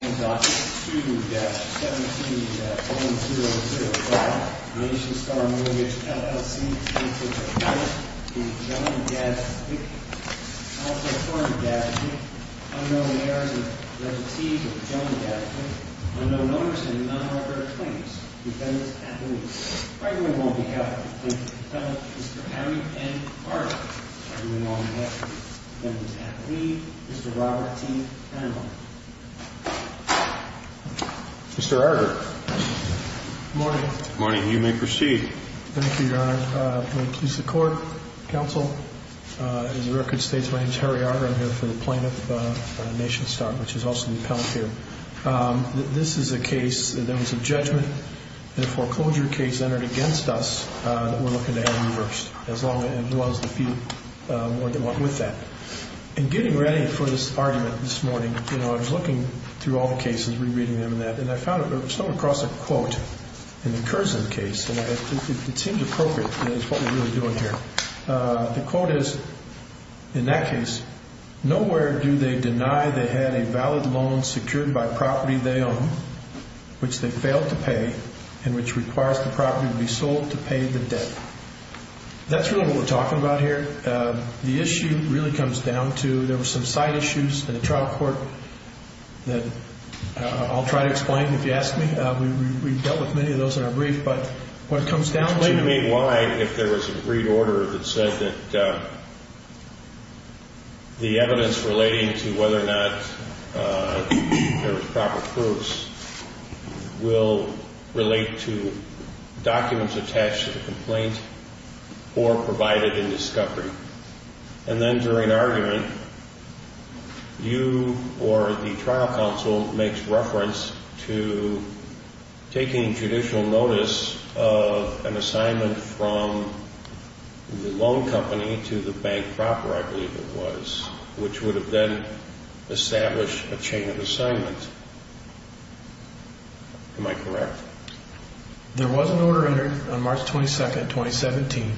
2-17-005 Nationstar Mortgage, LLC v. John Gazdik Also termed Gazdik, unknown heirs of reputees of John Gazdik, unknown owners of non-authorized claims. Defendant's affidavit. Fragment on behalf of the plaintiff's defendant, Mr. Harry N. Hartley Fragment on behalf of the defendant's affidavit, Mr. Robert T. Hanley Mr. Arger Good morning Good morning. You may proceed. Thank you, Your Honor. I'm going to introduce the court. Counsel, as the record states, my name is Harry Arger. I'm here for the plaintiff, Nationstar, which is also the appellant here. This is a case, there was a judgment, a foreclosure case entered against us that we're looking to have reversed. As long as it was the few more than one with that. In getting ready for this argument this morning, you know, I was looking through all the cases, re-reading them and that, and I found somewhere across a quote in the Curzon case, and it seemed appropriate. It's what we're really doing here. The quote is, in that case, nowhere do they deny they had a valid loan secured by property they own, which they failed to pay, and which requires the property to be sold to pay the debt. That's really what we're talking about here. The issue really comes down to, there were some side issues in the trial court that I'll try to explain if you ask me. We've dealt with many of those in our brief, but what comes down to- Explain to me why, if there was an agreed order that said that the evidence relating to whether or not there was proper proofs will relate to documents attached to the complaint or provided in discovery, and then during argument, you or the trial counsel makes reference to taking judicial notice of an assignment from the loan company to the bank proper, I believe it was, which would have then established a chain of assignment. Am I correct? There was an order entered on March 22nd, 2017.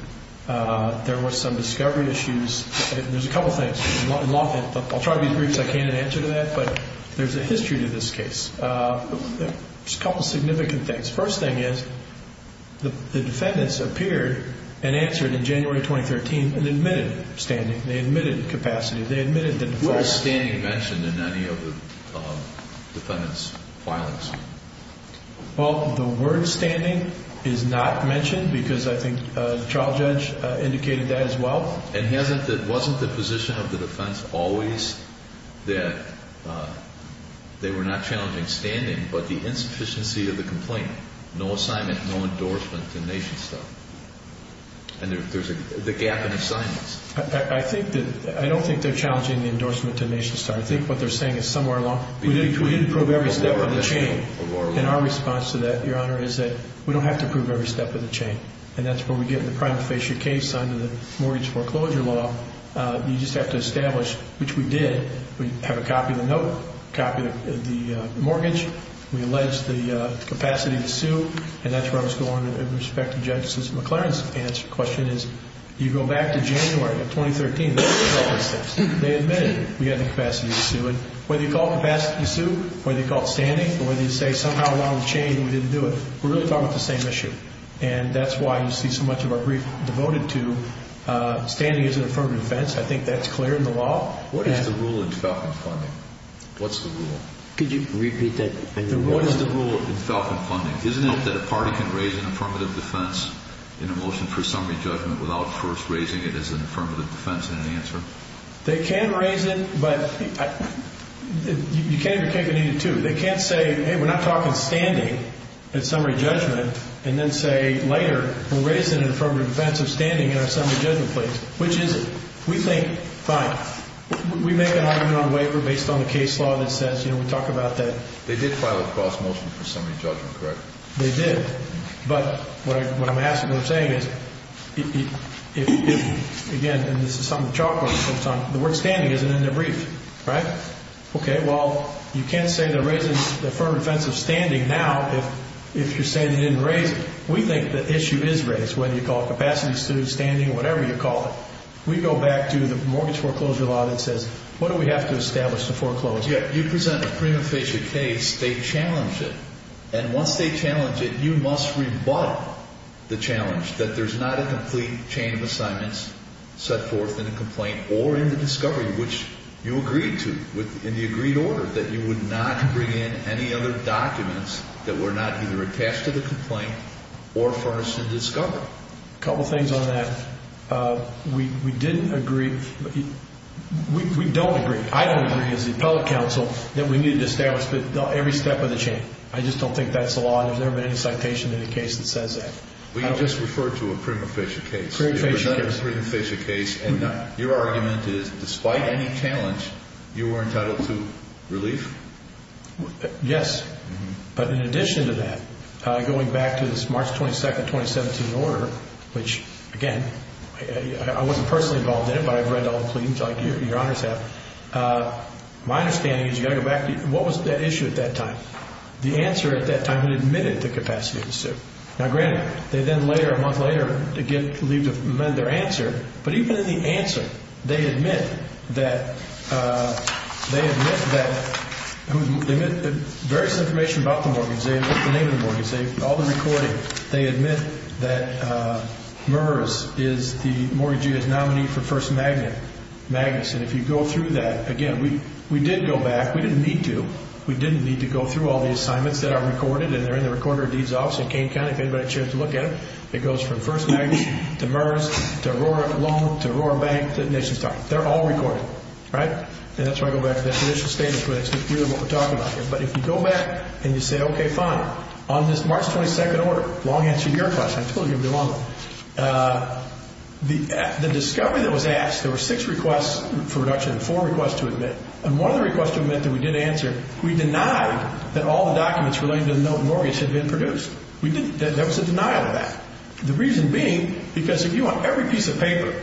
There was some discovery issues. There's a couple things. I'll try to be brief as I can in answer to that, but there's a history to this case. There's a couple significant things. First thing is, the defendants appeared and answered in January 2013 and admitted standing. They admitted that- Was standing mentioned in any of the defendants' filings? Well, the word standing is not mentioned because I think the trial judge indicated that as well. And wasn't the position of the defense always that they were not challenging standing, but the insufficiency of the complaint, no assignment, no endorsement to nation stuff? And there's a gap in assignments. I don't think they're challenging the endorsement to nation stuff. I think what they're saying is somewhere along- We didn't prove every step of the chain. And our response to that, Your Honor, is that we don't have to prove every step of the chain. And that's where we get in the prima facie case under the mortgage foreclosure law. You just have to establish, which we did. We have a copy of the note, a copy of the mortgage. We allege the capacity to sue. And that's where I was going with respect to Judge McLaren's answer. My question is, you go back to January of 2013, they admitted we had the capacity to sue it. Whether you call it capacity to sue, whether you call it standing, or whether you say somehow along the chain we didn't do it, we're really talking about the same issue. And that's why you see so much of our brief devoted to standing as an affirmative defense. I think that's clear in the law. What is the rule in Falcon Funding? What's the rule? Could you repeat that? What is the rule in Falcon Funding? Isn't it that a party can raise an affirmative defense in a motion for summary judgment without first raising it as an affirmative defense in an answer? They can raise it, but you can't even take it into two. They can't say, hey, we're not talking standing in summary judgment, and then say later we're raising an affirmative defense of standing in our summary judgment please. Which is it? We think, fine, we make an argument on waiver based on the case law that says, you know, we talk about that. They did file a cross-motion for summary judgment, correct? They did. But what I'm asking, what I'm saying is, again, and this is something the chalkboard is focused on, the word standing isn't in the brief, right? Okay, well, you can't say they're raising the affirmative defense of standing now if you're saying they didn't raise it. We think the issue is raised, whether you call it capacity, standing, whatever you call it. We go back to the mortgage foreclosure law that says, what do we have to establish to foreclose? You present a prima facie case. They challenge it. And once they challenge it, you must rebut the challenge that there's not a complete chain of assignments set forth in a complaint or in the discovery, which you agreed to in the agreed order, that you would not bring in any other documents that were not either attached to the complaint or furnished in discovery. A couple things on that. We didn't agree. We don't agree. I don't agree as the appellate counsel that we need to establish every step of the chain. I just don't think that's the law, and there's never been any citation in any case that says that. We just referred to a prima facie case. It was not a prima facie case. And your argument is, despite any challenge, you were entitled to relief? Yes. But in addition to that, going back to this March 22, 2017 order, which, again, I wasn't personally involved in it, but I've read all the pleadings like your honors have, my understanding is you've got to go back to what was at issue at that time. The answer at that time had admitted the capacity of the suit. Now, granted, they then later, a month later, leave to amend their answer, but even in the answer, they admit that various information about the mortgage, they admit the name of the mortgage, all the recording. They admit that MERS is the mortgagee's nominee for First Magnus. And if you go through that, again, we did go back. We didn't need to. We didn't need to go through all the assignments that are recorded, and they're in the recorder of deeds office in Kane County. If anybody has a chance to look at them, it goes from First Magnus to MERS to Aurora Loan to Aurora Bank to the nation's top. They're all recorded, right? And that's why I go back to that initial statement, because that's clearly what we're talking about here. But if you go back and you say, okay, fine, on this March 22nd order, long answer to your question. I told you it would be long. The discovery that was asked, there were six requests for reduction and four requests to admit, and one of the requests to admit that we did answer, we denied that all the documents relating to the mortgage had been produced. That was a denial of that. The reason being because if you want every piece of paper,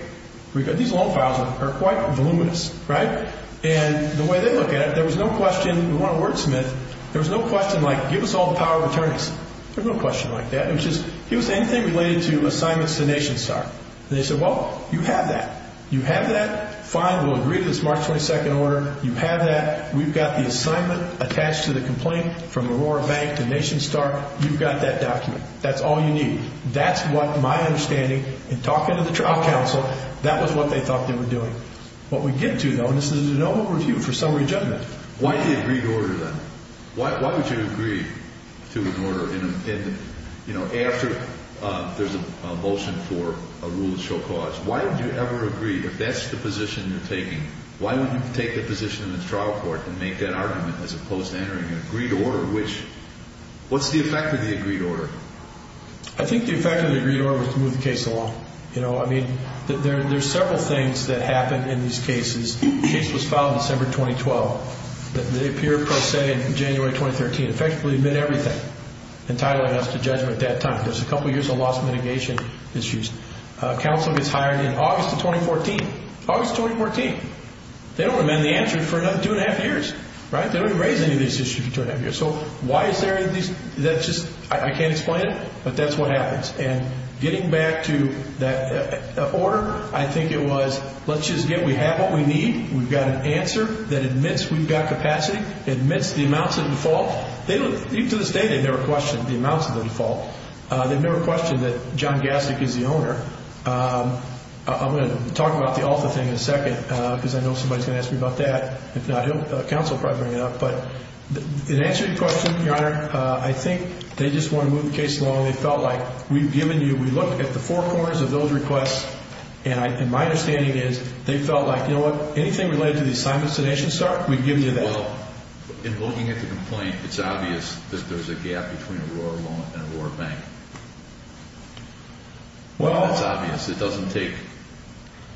these loan files are quite voluminous, right? And the way they look at it, there was no question. We weren't a wordsmith. There was no question like, give us all the power of attorneys. There was no question like that. It was just, here's anything related to assignments to Nation Star. And they said, well, you have that. You have that. Fine, we'll agree to this March 22nd order. You have that. We've got the assignment attached to the complaint from Aurora Bank to Nation Star. You've got that document. That's all you need. That's what my understanding, in talking to the trial counsel, that was what they thought they were doing. What we get to, though, is there's no review for summary judgment. Why the agreed order, then? Why would you agree to an order after there's a motion for a rule of show cause? Why would you ever agree if that's the position you're taking? Why would you take the position in the trial court and make that argument as opposed to entering an agreed order? What's the effect of the agreed order? I think the effect of the agreed order is to move the case along. I mean, there are several things that happen in these cases. The case was filed December 2012. They appear, per se, in January 2013. Effectively, they admit everything, entitling us to judgment at that time. There's a couple years of lost mitigation issues. Counsel gets hired in August of 2014. August of 2014. They don't amend the answer for another two and a half years. They don't even raise any of these issues for two and a half years. So why is there this? I can't explain it, but that's what happens. And getting back to that order, I think it was let's just get what we have, what we need. We've got an answer that admits we've got capacity, admits the amounts of default. Even to this day, they've never questioned the amounts of the default. They've never questioned that John Gastic is the owner. I'm going to talk about the ALFA thing in a second because I know somebody is going to ask me about that. If not, counsel will probably bring it up. But in answering your question, Your Honor, I think they just want to move the case along. They felt like we've given you, we looked at the four corners of those requests, and my understanding is they felt like, you know what? Anything related to the assignments to NationStar, we've given you that. Well, in looking at the complaint, it's obvious that there's a gap between Aurora Loan and Aurora Bank. Well, it's obvious. It doesn't take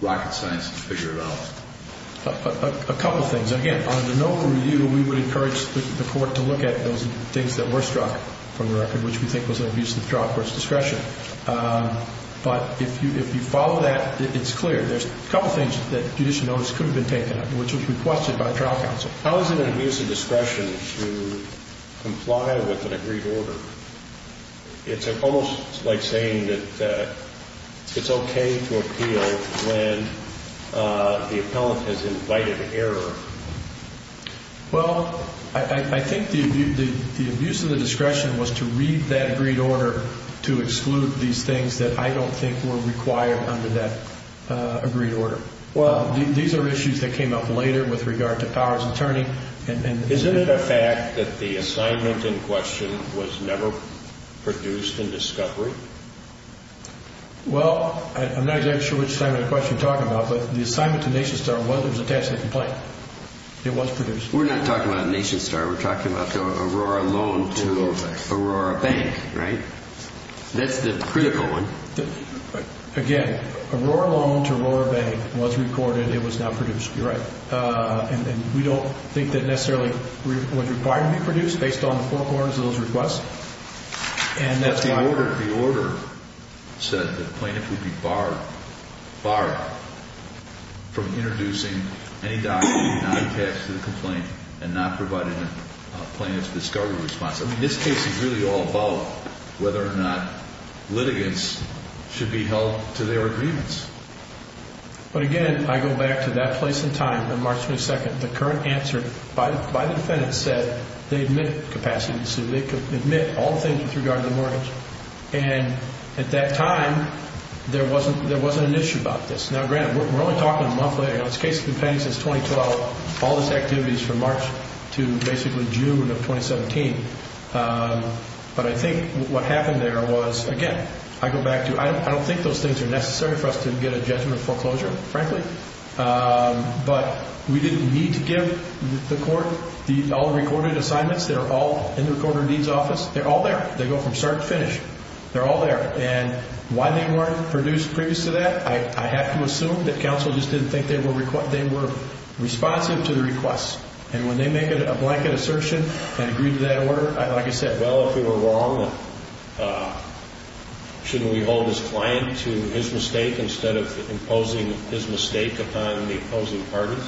rocket science to figure it out. A couple things. Again, on the NOVA review, we would encourage the court to look at those things that were struck from the record, which we think was an abuse of trial court's discretion. But if you follow that, it's clear. There's a couple things that judicial notice could have been taken up, which was requested by trial counsel. How is it an abuse of discretion to comply with an agreed order? It's almost like saying that it's okay to appeal when the appellant has invited error. Well, I think the abuse of the discretion was to read that agreed order to exclude these things that I don't think were required under that agreed order. These are issues that came up later with regard to powers of attorney. Isn't it a fact that the assignment in question was never produced in discovery? Well, I'm not exactly sure which assignment in question you're talking about, but the assignment to NationStar was attached to the complaint. It was produced. We're not talking about NationStar. We're talking about the Aurora loan to Aurora Bank, right? That's the critical one. Again, Aurora loan to Aurora Bank was recorded. It was not produced. You're right. And we don't think that necessarily was required to be produced based on the forecourt of those requests. The order said the plaintiff would be barred from introducing any document not attached to the complaint and not providing a plaintiff's discovery response. I mean, this case is really all about whether or not litigants should be held to their agreements. But, again, I go back to that place and time on March 22nd. The current answer by the defendant said they admitted capacity to sue. They could admit all things with regard to the mortgage. And at that time, there wasn't an issue about this. Now, granted, we're only talking a month later. This case has been pending since 2012. All this activity is from March to basically June of 2017. But I think what happened there was, again, I go back to, I don't think those things are necessary for us to get a judgment of foreclosure, frankly. But we didn't need to give the court all the recorded assignments. They're all in the recorder of deeds office. They're all there. They go from start to finish. They're all there. And why they weren't produced previous to that, I have to assume that counsel just didn't think they were responsive to the requests. And when they make a blanket assertion and agree to that order, like I said, well, if we were wrong, shouldn't we hold this client to his mistake instead of imposing his mistake upon the opposing parties?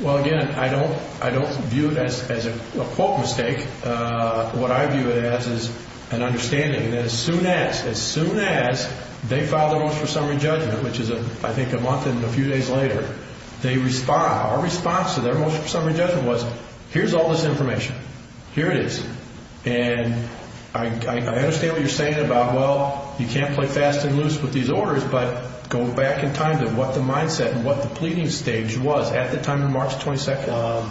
Well, again, I don't view it as a quote mistake. What I view it as is an understanding that as soon as they file their motion for summary judgment, which is, I think, a month and a few days later, our response to their motion for summary judgment was, here's all this information. Here it is. And I understand what you're saying about, well, you can't play fast and loose with these orders, but go back in time to what the mindset and what the pleading stage was at the time of March 22nd.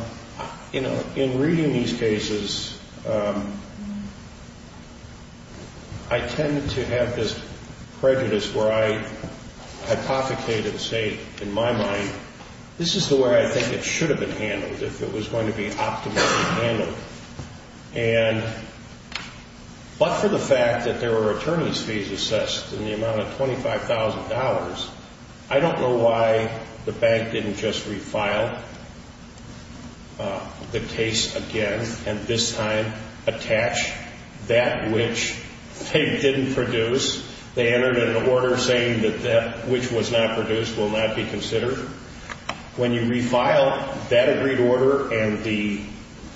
You know, in reading these cases, I tended to have this prejudice where I hypothecated and say, in my mind, this is the way I think it should have been handled if it was going to be optimally handled. And but for the fact that there were attorneys' fees assessed in the amount of $25,000, I don't know why the bank didn't just refile the case again and this time attach that which they didn't produce. They entered an order saying that that which was not produced will not be considered. When you refile that agreed order and the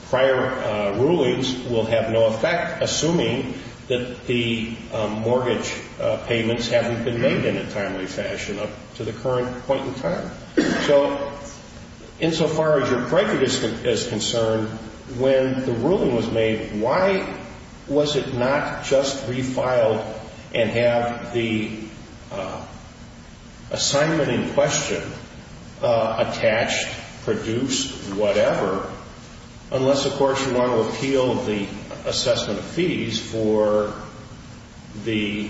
prior rulings will have no effect, assuming that the mortgage payments haven't been made in a timely fashion up to the current point in time. So insofar as your prejudice is concerned, when the ruling was made, why was it not just refiled and have the assignment in question attached, produced, whatever, unless, of course, you want to appeal the assessment of fees for the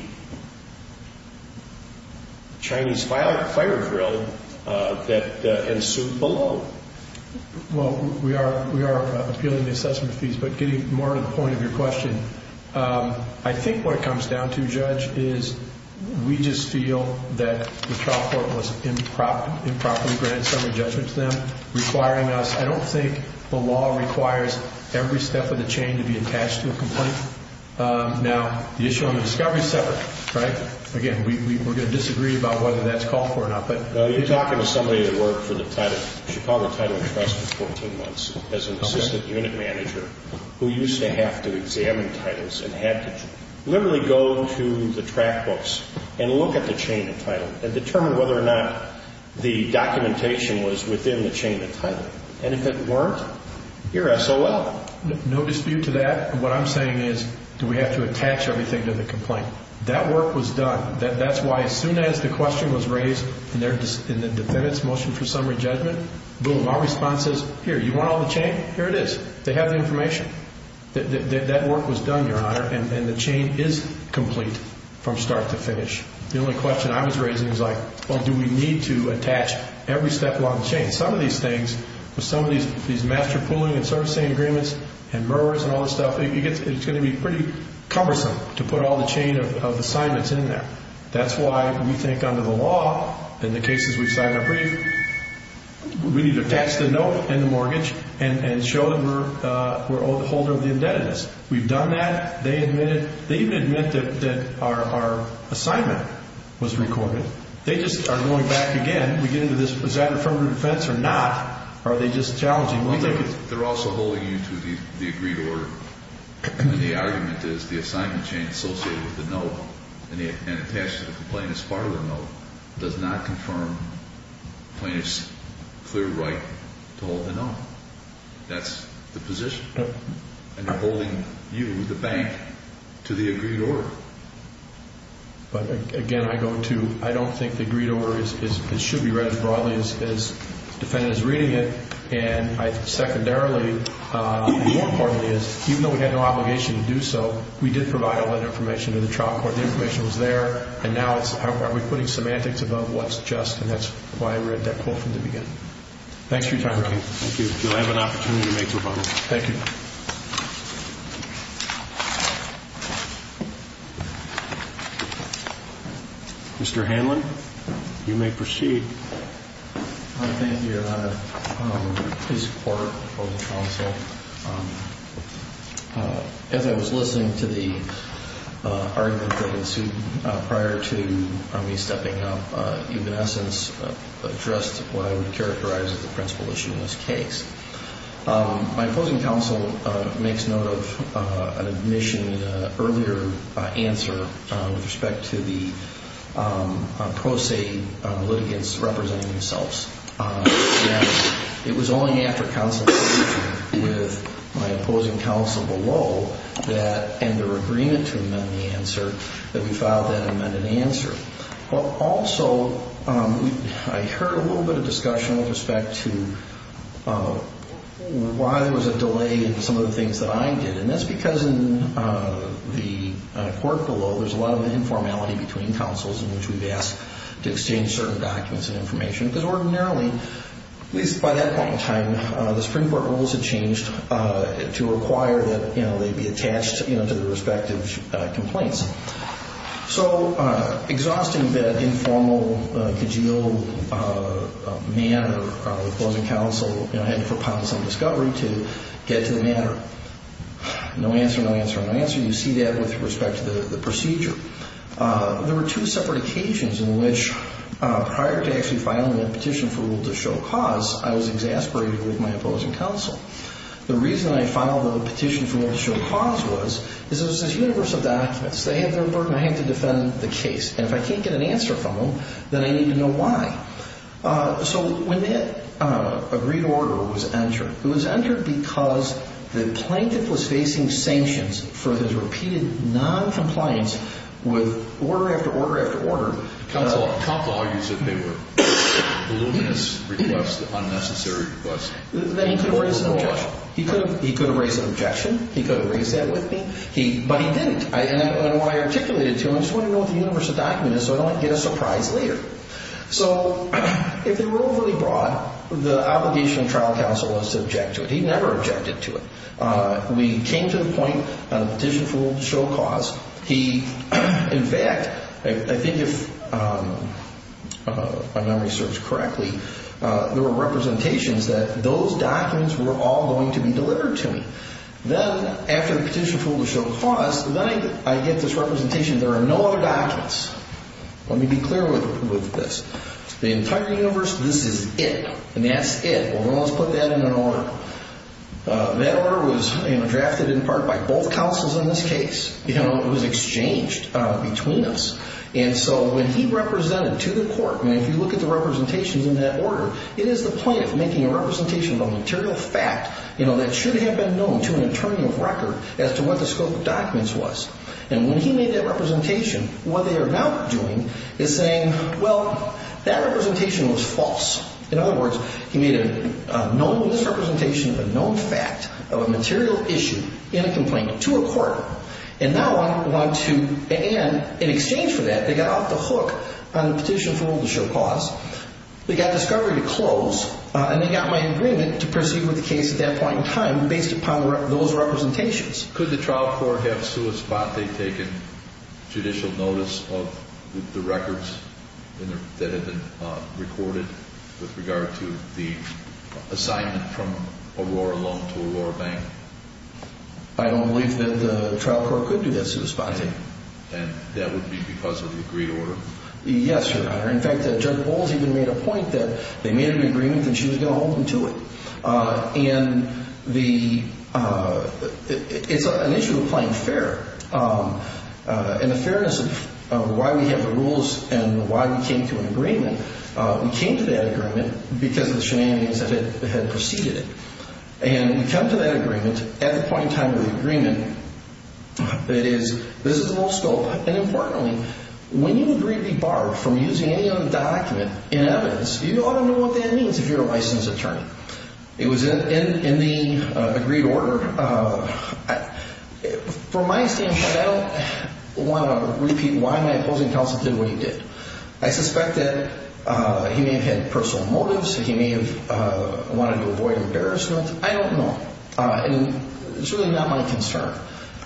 Chinese fire drill that ensued below? Well, we are appealing the assessment of fees, but getting more to the point of your question, I think what it comes down to, Judge, is we just feel that the trial court was improperly granted summary judgment to them, requiring us, I don't think the law requires every step of the chain to be attached to a complaint. Now, the issue on the discovery is separate, right? Again, we're going to disagree about whether that's called for or not. You're talking to somebody that worked for the Chicago Title Trust for 14 months as an assistant unit manager who used to have to examine titles and had to literally go to the track books and look at the chain of title and determine whether or not the documentation was within the chain of title. And if it weren't, you're SOL. No dispute to that. What I'm saying is do we have to attach everything to the complaint? That work was done. That's why as soon as the question was raised in the defendant's motion for summary judgment, boom, our response is, here, you want all the chain? Here it is. They have the information. That work was done, Your Honor, and the chain is complete from start to finish. The only question I was raising was like, well, do we need to attach every step along the chain? Some of these things, with some of these master pooling and servicing agreements and murderers and all this stuff, it's going to be pretty cumbersome to put all the chain of assignments in there. That's why we think under the law, in the cases we've signed our brief, we need to attach the note and the mortgage and show that we're a holder of the indebtedness. We've done that. They admitted. They even admitted that our assignment was recorded. They just are going back again. We get into this, was that an affirmative defense or not? Or are they just challenging? They're also holding you to the agreed order. And the argument is the assignment chain associated with the note and attached to the complainant's parlor note does not confirm the plaintiff's clear right to hold the note. That's the position. And they're holding you, the bank, to the agreed order. But, again, I don't think the agreed order should be read as broadly as the defendant is reading it. And secondarily, more importantly, is even though we had no obligation to do so, we did provide all that information to the trial court. The information was there. And now it's are we putting semantics above what's just? And that's why I read that quote from the beginning. Thanks for your time. Thank you. You'll have an opportunity to make your vote. Thank you. Mr. Hanlon, you may proceed. Thank you, Your Honor. Please support the opposing counsel. As I was listening to the argument that ensued prior to me stepping up, you've, in essence, addressed what I would characterize as the principal issue in this case. My opposing counsel makes note of an admission in an earlier answer with respect to the pro se litigants representing themselves. And it was only after consultation with my opposing counsel below that, and their agreement to amend the answer, that we filed that amended answer. Also, I heard a little bit of discussion with respect to why there was a delay in some of the things that I did. And that's because in the court below, there's a lot of informality between counsels in which we've asked to exchange certain documents and information. Because ordinarily, at least by that point in time, the Supreme Court rules had changed to require that they be attached to their respective complaints. So exhausting that informal, cajoled manner of opposing counsel, I had to put pounds on discovery to get to the matter. No answer, no answer, no answer. You see that with respect to the procedure. There were two separate occasions in which prior to actually filing that petition for rule to show cause, I was exasperated with my opposing counsel. The reason I filed the petition for rule to show cause was, is it was this universe of documents. They had their burden. I had to defend the case. And if I can't get an answer from them, then I need to know why. So when that agreed order was entered, it was entered because the plaintiff was facing sanctions for his repeated noncompliance with order after order after order. Counsel argues that they were voluminous requests, unnecessary requests. Then he could have raised an objection. He could have raised an objection. He could have raised that with me. But he didn't. And when I articulated it to him, I just wanted to know what the universe of documents is so I don't get a surprise later. So if they were overly broad, the obligation of trial counsel was to object to it. He never objected to it. We came to the point of the petition for rule to show cause. He, in fact, I think if my memory serves correctly, there were representations that those documents were all going to be delivered to me. Then after the petition for rule to show cause, then I get this representation there are no other documents. Let me be clear with this. The entire universe, this is it. And that's it. Well, then let's put that in an order. That order was drafted in part by both counsels in this case. It was exchanged between us. And so when he represented to the court, and if you look at the representations in that order, it is the point of making a representation of a material fact, you know, that should have been known to an attorney of record as to what the scope of documents was. And when he made that representation, what they are now doing is saying, well, that representation was false. In other words, he made a known misrepresentation of a known fact of a material issue in a complaint to a court. And now I'm going to, and in exchange for that, they got off the hook on the petition for rule to show cause. They got discovery to close, and they got my agreement to proceed with the case at that point in time based upon those representations. Could the trial court have sue a spot they've taken judicial notice of the records that have been recorded with regard to the assignment from Aurora Loan to Aurora Bank? I don't believe that the trial court could do that to a spot. And that would be because of the agreed order? Yes, Your Honor. In fact, Judge Bowles even made a point that they made an agreement that she was going to hold them to it. And the, it's an issue of playing fair. And the fairness of why we have the rules and why we came to an agreement, we came to that agreement because of the shenanigans that had preceded it. And we come to that agreement at the point in time of the agreement that is, this is the whole scope. And importantly, when you agree to be barred from using any other document in evidence, you ought to know what that means if you're a licensed attorney. It was in the agreed order. From my standpoint, I don't want to repeat why my opposing counsel did what he did. I suspect that he may have had personal motives. He may have wanted to avoid embarrassment. I don't know. And it's really not my concern.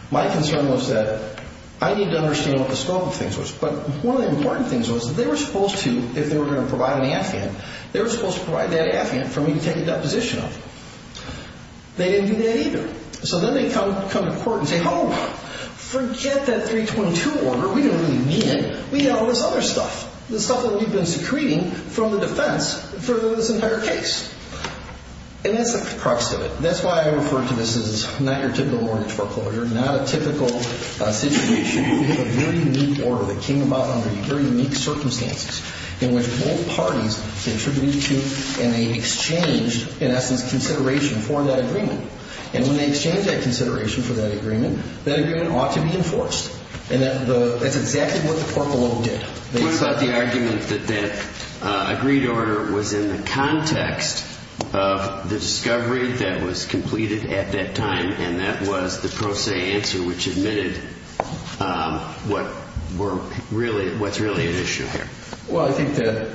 My concern was that I need to understand what the scope of things was. But one of the important things was that they were supposed to, if they were going to provide an affiant, they were supposed to provide that affiant for me to take a deposition of. They didn't do that either. So then they come to court and say, oh, forget that 322 order. We didn't really mean it. We had all this other stuff. The stuff that we've been secreting from the defense for this entire case. And that's the crux of it. That's why I refer to this as not your typical mortgage foreclosure, not a typical situation. We have a very unique order that came about under very unique circumstances in which both parties contributed to and they exchanged, in essence, consideration for that agreement. And when they exchanged that consideration for that agreement, that agreement ought to be enforced. And that's exactly what the court below did. They thought the argument that that agreed order was in the context of the discovery that was completed at that time and that was the pro se answer which admitted what's really at issue here. Well, I think that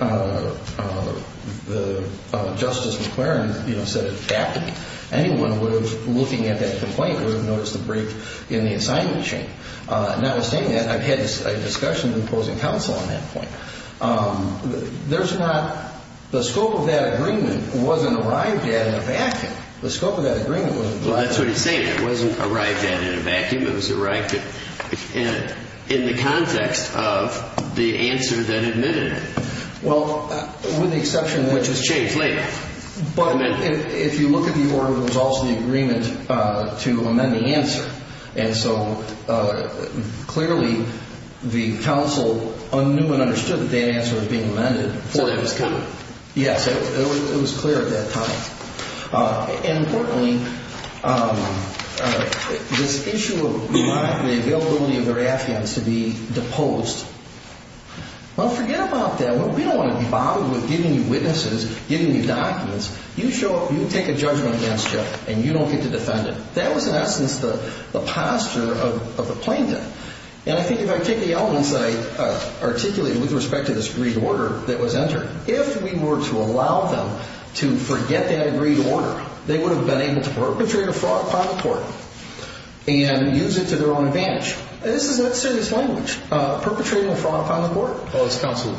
Justice McClaren said it aptly. Anyone looking at that complaint would have noticed the break in the assignment chain. Notwithstanding that, I've had a discussion with opposing counsel on that point. There's not the scope of that agreement wasn't arrived at in a vacuum. The scope of that agreement wasn't arrived at. Well, that's what he's saying. It wasn't arrived at in a vacuum. It was arrived at in the context of the answer that admitted it. Well, with the exception which was changed later. But if you look at the order, there was also the agreement to amend the answer. And so clearly the counsel knew and understood that that answer was being amended. So it was clear. Yes, it was clear at that time. And importantly, this issue of the availability of their affidavits to be deposed. Well, forget about that. We don't want to be bothered with giving you witnesses, giving you documents. You show up, you take a judgment against you, and you don't get to defend it. That was, in essence, the posture of the plaintiff. And I think if I take the elements that I articulated with respect to this agreed order that was entered, if we were to allow them to forget that agreed order, they would have been able to perpetrate a fraud upon the court and use it to their own advantage. This is not serious language. Perpetrating a fraud upon the court? Well, it's counsel.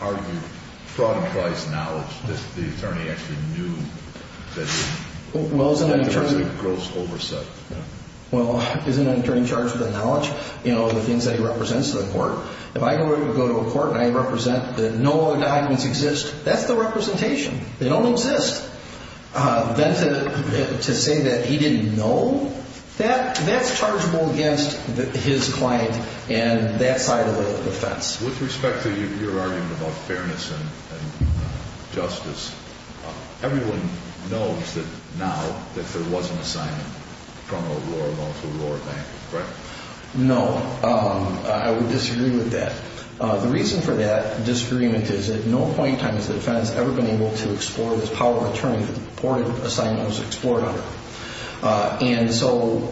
Are you fraud in Christ's knowledge that the attorney actually knew that he was going to be deposed? Well, isn't an attorney charged with the knowledge, you know, the things that he represents to the court? If I go to a court and I represent that no other documents exist, that's the representation. They don't exist. Then to say that he didn't know, that's chargeable against his client and that side of the defense. With respect to your argument about fairness and justice, everyone knows that now that there was an assignment from a lower loan to a lower bank, correct? No. I would disagree with that. The reason for that disagreement is at no point in time has the defense ever been able to explore this power of attorney that the reported assignment was explored under. And so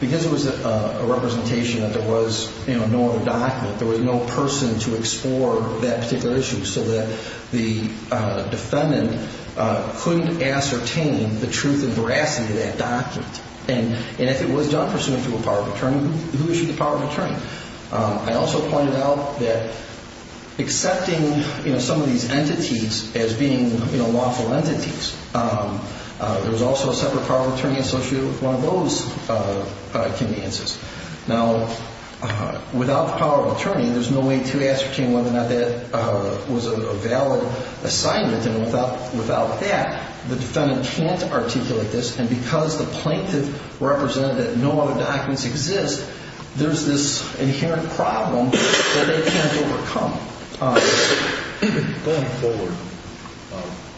because it was a representation that there was no other document, there was no person to explore that particular issue so that the defendant couldn't ascertain the truth and veracity of that document. And if it was done pursuant to a power of attorney, who issued the power of attorney? I also pointed out that accepting some of these entities as being lawful entities, there's also a separate power of attorney associated with one of those conveniences. Now, without the power of attorney, there's no way to ascertain whether or not that was a valid assignment. And without that, the defendant can't articulate this. And because the plaintiff represented that no other documents exist, there's this inherent problem that they can't overcome. Going forward,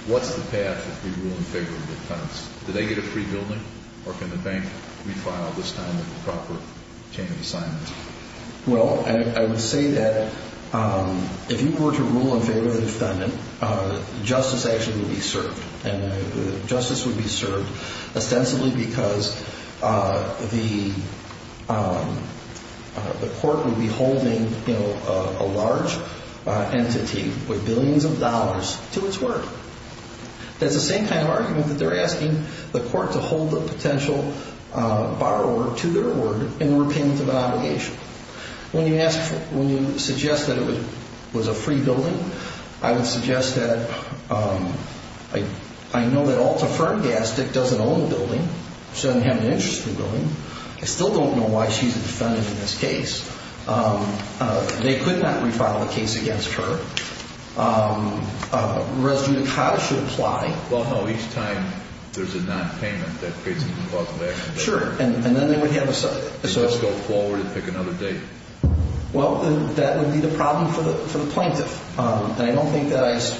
what's the path if we rule in favor of the defense? Do they get a free building, or can the bank refile this time with the proper chain of assignment? Well, I would say that if you were to rule in favor of the defendant, justice actually would be served. And justice would be served ostensibly because the court would be holding a large entity with billions of dollars to its word. That's the same kind of argument that they're asking the court to hold the potential borrower to their word in repayment of an obligation. When you suggest that it was a free building, I would suggest that I know that Alta Fern Gastic doesn't own the building. She doesn't have an interest in the building. I still don't know why she's a defendant in this case. They could not refile the case against her. Res judicata should apply. Well, no. Each time there's a nonpayment, that creates a clause of action. Sure. And then they would have a subject. So let's go forward and pick another date. Well, that would be the problem for the plaintiff. And I don't think that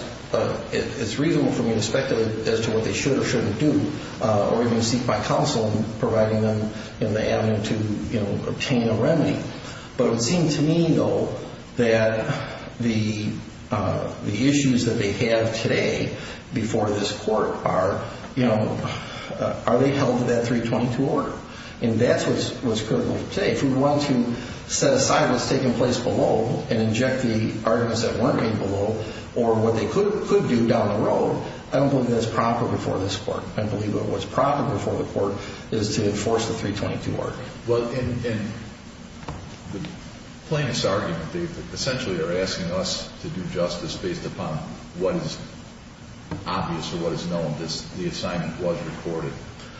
it's reasonable for me to speculate as to what they should or shouldn't do, or even seek my counsel in providing them the avenue to obtain a remedy. But it would seem to me, though, that the issues that they have today before this court are, you know, are they held to that 322 order? And that's what's critical today. If we want to set aside what's taking place below and inject the arguments that weren't made below or what they could do down the road, I don't believe that's proper before this court. I believe that what's proper before the court is to enforce the 322 order. Well, in the plaintiff's argument, they essentially are asking us to do justice based upon what is obvious or what is known. The assignment was recorded.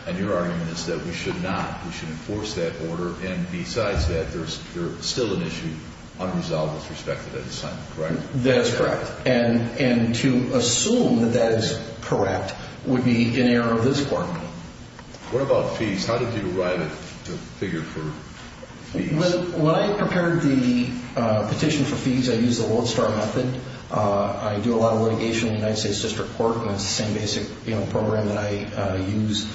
And your argument is that we should not. We should enforce that order. And besides that, there's still an issue unresolved with respect to that assignment, correct? That's correct. And to assume that that is correct would be in error of this court. What about fees? How did you write the figure for fees? When I prepared the petition for fees, I used the Lodestar method. I do a lot of litigation in the United States District Court, and it's the same basic program that I use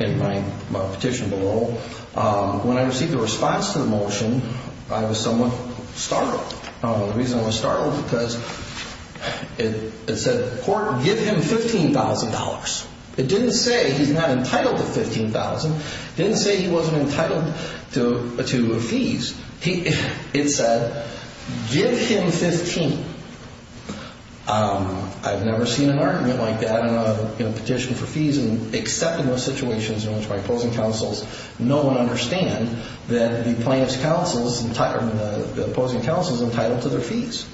in my petition below. When I received the response to the motion, I was somewhat startled. The reason I was startled was because it said, court, give him $15,000. It didn't say he's not entitled to $15,000. It didn't say he wasn't entitled to fees. It said, give him $15,000. I've never seen an argument like that in a petition for fees, except in those situations in which my opposing counsels know and understand that the plaintiff's counsel is entitled to their fees.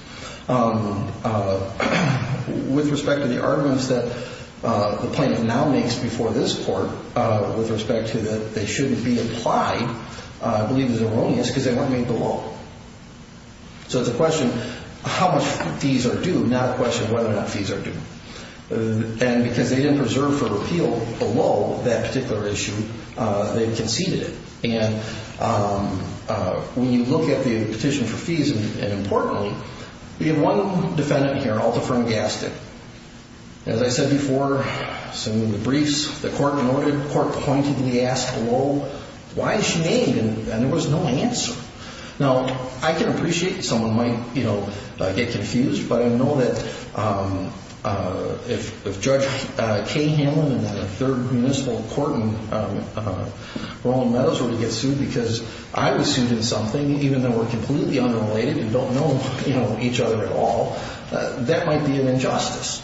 With respect to the arguments that the plaintiff now makes before this court with respect to that they shouldn't be applied, I believe it's erroneous because they weren't made below. So it's a question of how much fees are due, not a question of whether or not fees are due. And because they didn't preserve for appeal below that particular issue, they conceded it. When you look at the petition for fees, and importantly, we have one defendant here, Altaferne Gaston. As I said before, in the briefs, the court pointed to the ask below, why is she named? And there was no answer. Now, I can appreciate that someone might get confused, but I know that if Judge Kay Hamlin and the third municipal court in Roland Meadows were to get sued because I was sued in something, even though we're completely unrelated and don't know each other at all, that might be an injustice.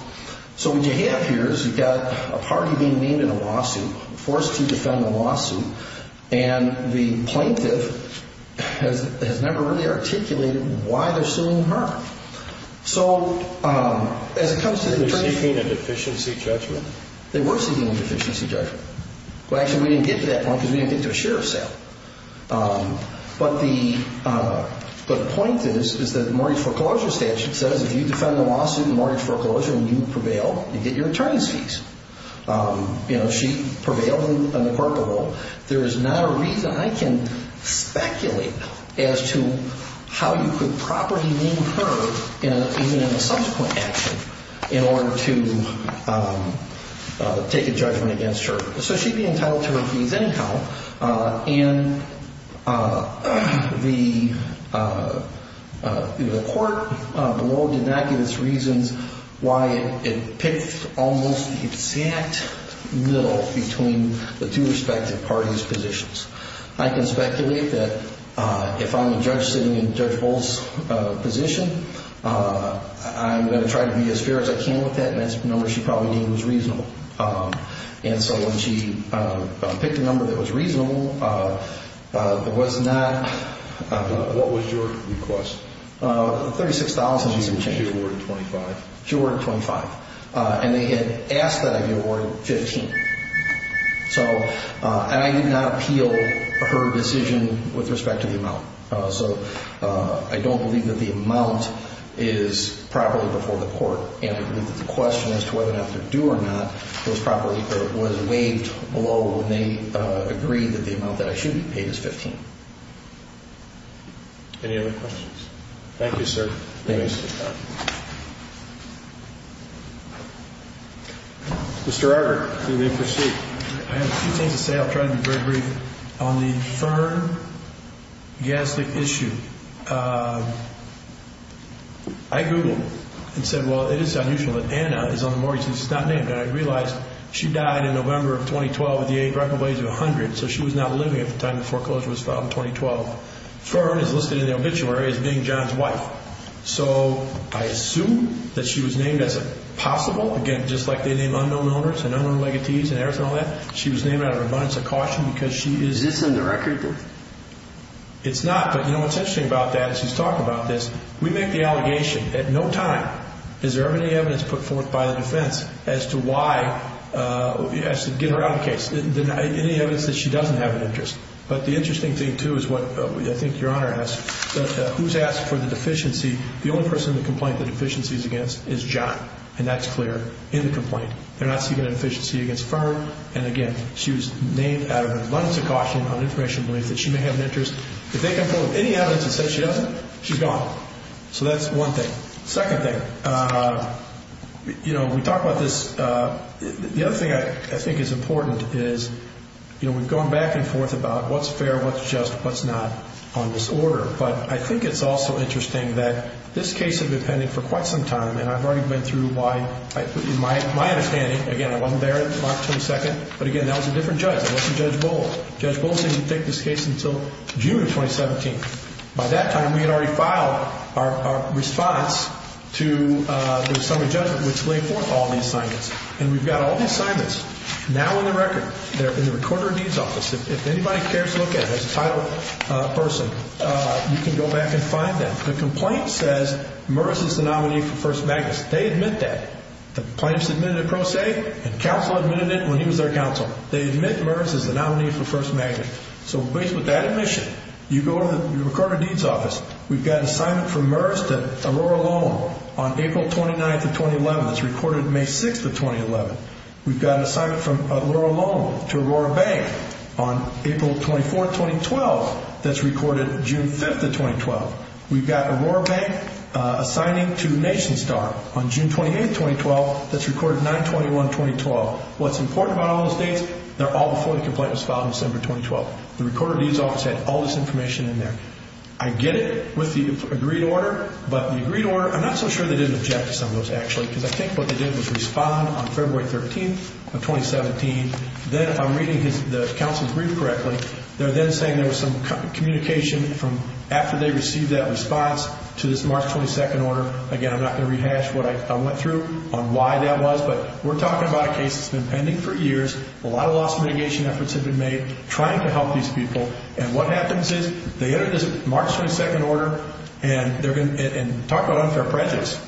So what you have here is you've got a party being named in a lawsuit, forced to defend a lawsuit, and the plaintiff has never really articulated why they're suing her. So as it comes to the attorney's fees... They were seeking a deficiency judgment. They were seeking a deficiency judgment. Well, actually, we didn't get to that point because we didn't get to a sheriff's sale. But the point is that the mortgage foreclosure statute says if you defend the lawsuit in mortgage foreclosure and you prevail, you get your attorney's fees. You know, she prevailed in the corporate role. There is not a reason I can speculate as to how you could properly name her in a subsequent action in order to take a judgment against her. So she'd be entitled to her fees anyhow. And the court below did not give us reasons why it picked almost the exact middle between the two respective parties' positions. I can speculate that if I'm a judge sitting in Judge Bull's position, I'm going to try to be as fair as I can with that, and that's the number she probably named was reasonable. And so when she picked a number that was reasonable, there was not... What was your request? $36,000. She awarded $25,000. She awarded $25,000. And they had asked that I be awarded $15,000. So I did not appeal her decision with respect to the amount. So I don't believe that the amount is properly before the court. And I believe that the question as to whether or not to do or not was properly was waived below when they agreed that the amount that I should be paid is $15,000. Any other questions? Thank you, sir. Thank you. Mr. Arger, you may proceed. I have a few things to say. I'll try to be very brief. On the Fern Gastic issue, I Googled and said, well, it is unusual that Anna is on the mortgage. She's not named. And I realized she died in November of 2012 at the age of probably 100, so she was not living at the time the foreclosure was filed in 2012. Fern is listed in the obituary as being John's wife. So I assume that she was named as possible. Again, just like they name unknown owners and unknown legatees and everything like that, she was named out of abundance of caution because she is. Is this in the record? It's not. But, you know, what's interesting about that is he's talking about this. We make the allegation at no time. Is there any evidence put forth by the defense as to why, as to get around the case, any evidence that she doesn't have an interest? But the interesting thing, too, is what I think Your Honor asked. Who's asked for the deficiency? The only person in the complaint the deficiency is against is John. And that's clear in the complaint. They're not seeking a deficiency against Fern. And, again, she was named out of abundance of caution on information that she may have an interest. If they can pull up any evidence that says she doesn't, she's gone. So that's one thing. Second thing, you know, we talk about this. The other thing I think is important is, you know, we've gone back and forth about what's fair, what's just, what's not on this order. But I think it's also interesting that this case had been pending for quite some time, and I've already been through why, in my understanding, again, I wasn't there on March 22nd. But, again, that was a different judge. It wasn't Judge Bowles. Judge Bowles didn't take this case until June of 2017. By that time, we had already filed our response to the assembly judgment which laid forth all these assignments. And we've got all these assignments now on the record. They're in the recorder of deeds office. If anybody cares to look at it as a title person, you can go back and find them. The complaint says Merz is the nominee for First Magistrate. They admit that. The plaintiff submitted a pro se, and counsel admitted it when he was their counsel. They admit Merz is the nominee for First Magistrate. So, at least with that admission, you go to the recorder of deeds office. We've got an assignment from Merz to Aurora Loan on April 29th of 2011 that's recorded May 6th of 2011. We've got an assignment from Aurora Loan to Aurora Bank on April 24th of 2012 that's recorded June 5th of 2012. We've got Aurora Bank assigning to Nation Star on June 28th of 2012 that's recorded 9-21-2012. What's important about all those dates, they're all before the complaint was filed in December 2012. The recorder of deeds office had all this information in there. I get it with the agreed order, but the agreed order, I'm not so sure they didn't object to some of those actually because I think what they did was respond on February 13th of 2017. Then, I'm reading the counsel's brief correctly. They're then saying there was some communication from after they received that response to this March 22nd order. Again, I'm not going to rehash what I went through on why that was, but we're talking about a case that's been pending for years. A lot of loss mitigation efforts have been made trying to help these people. What happens is they enter this March 22nd order and talk about unfair prejudice.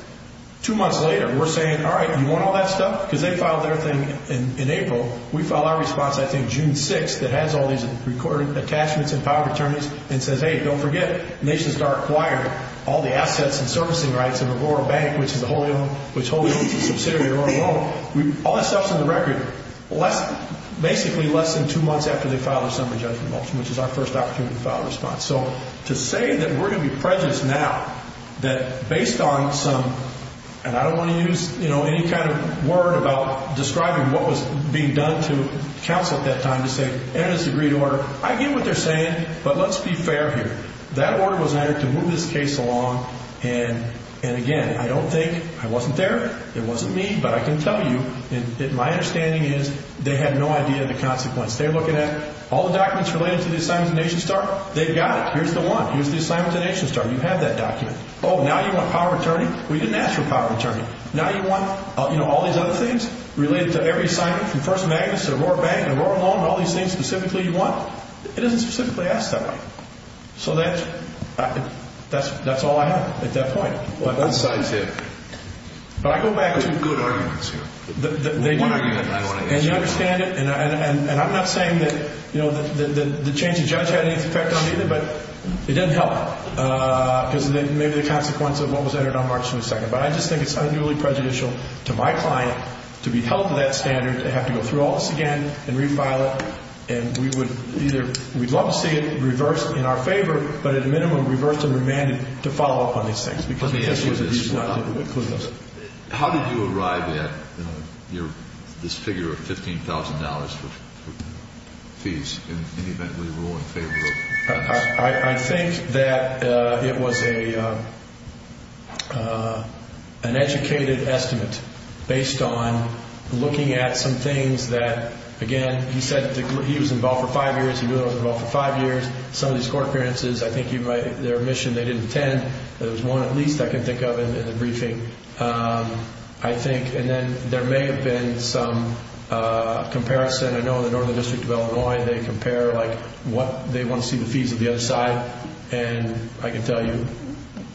Two months later, we're saying, all right, you want all that stuff because they filed their thing in April. We filed our response, I think, June 6th that has all these recorded attachments and power of attorneys and says, hey, don't forget, nation's dark choir, all the assets and servicing rights of Aurora Bank, which is a subsidiary of Aurora Loan. All that stuff's on the record basically less than two months after they filed their summary judgment motion, which is our first opportunity to file a response. To say that we're going to be prejudiced now, that based on some, and I don't want to use any kind of word about describing what was being done to counsel at that time to say, that is a great order. I get what they're saying, but let's be fair here. That order was entered to move this case along, and again, I don't think I wasn't there. It wasn't me, but I can tell you that my understanding is they had no idea of the consequence. They're looking at all the documents related to the assignment to nation's dark. They've got it. Here's the one. Here's the assignment to nation's dark. You have that document. Well, you didn't ask for power of attorney. Now you want all these other things related to every assignment from first of August to Aurora Bank and Aurora Loan and all these things specifically you want. It isn't specifically asked that way. So that's all I have at that point. Both sides did. But I go back to good arguments here. One argument I want to get to. And you understand it, and I'm not saying that the change of judge had any effect on it either, but it didn't help because of maybe the consequence of what was entered on March 22nd. But I just think it's unduly prejudicial to my client to be held to that standard, to have to go through all this again and refile it. And we would either we'd love to see it reversed in our favor, but at a minimum reversed and remanded to follow up on these things. Let me ask you this. How did you arrive at this figure of $15,000 for fees in any event we rule in favor of? I think that it was an educated estimate based on looking at some things that, again, he said he was involved for five years. He knew I was involved for five years. Some of these court appearances, I think their admission they didn't attend. There was one at least I can think of in the briefing, I think. And then there may have been some comparison. I know in the Northern District of Illinois they compare what they want to see the fees of the other side. And I can tell you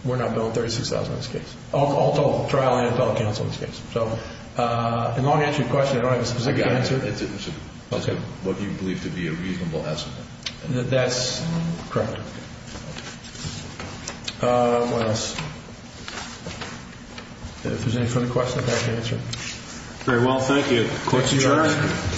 we're not billing $36,000 in this case. All told, trial and appellate counsel in this case. So a long-answer question. I don't have a specific answer. It's what you believe to be a reasonable estimate. That's correct. What else? If there's any further questions, I can answer. Very well. Thank you. Court is adjourned.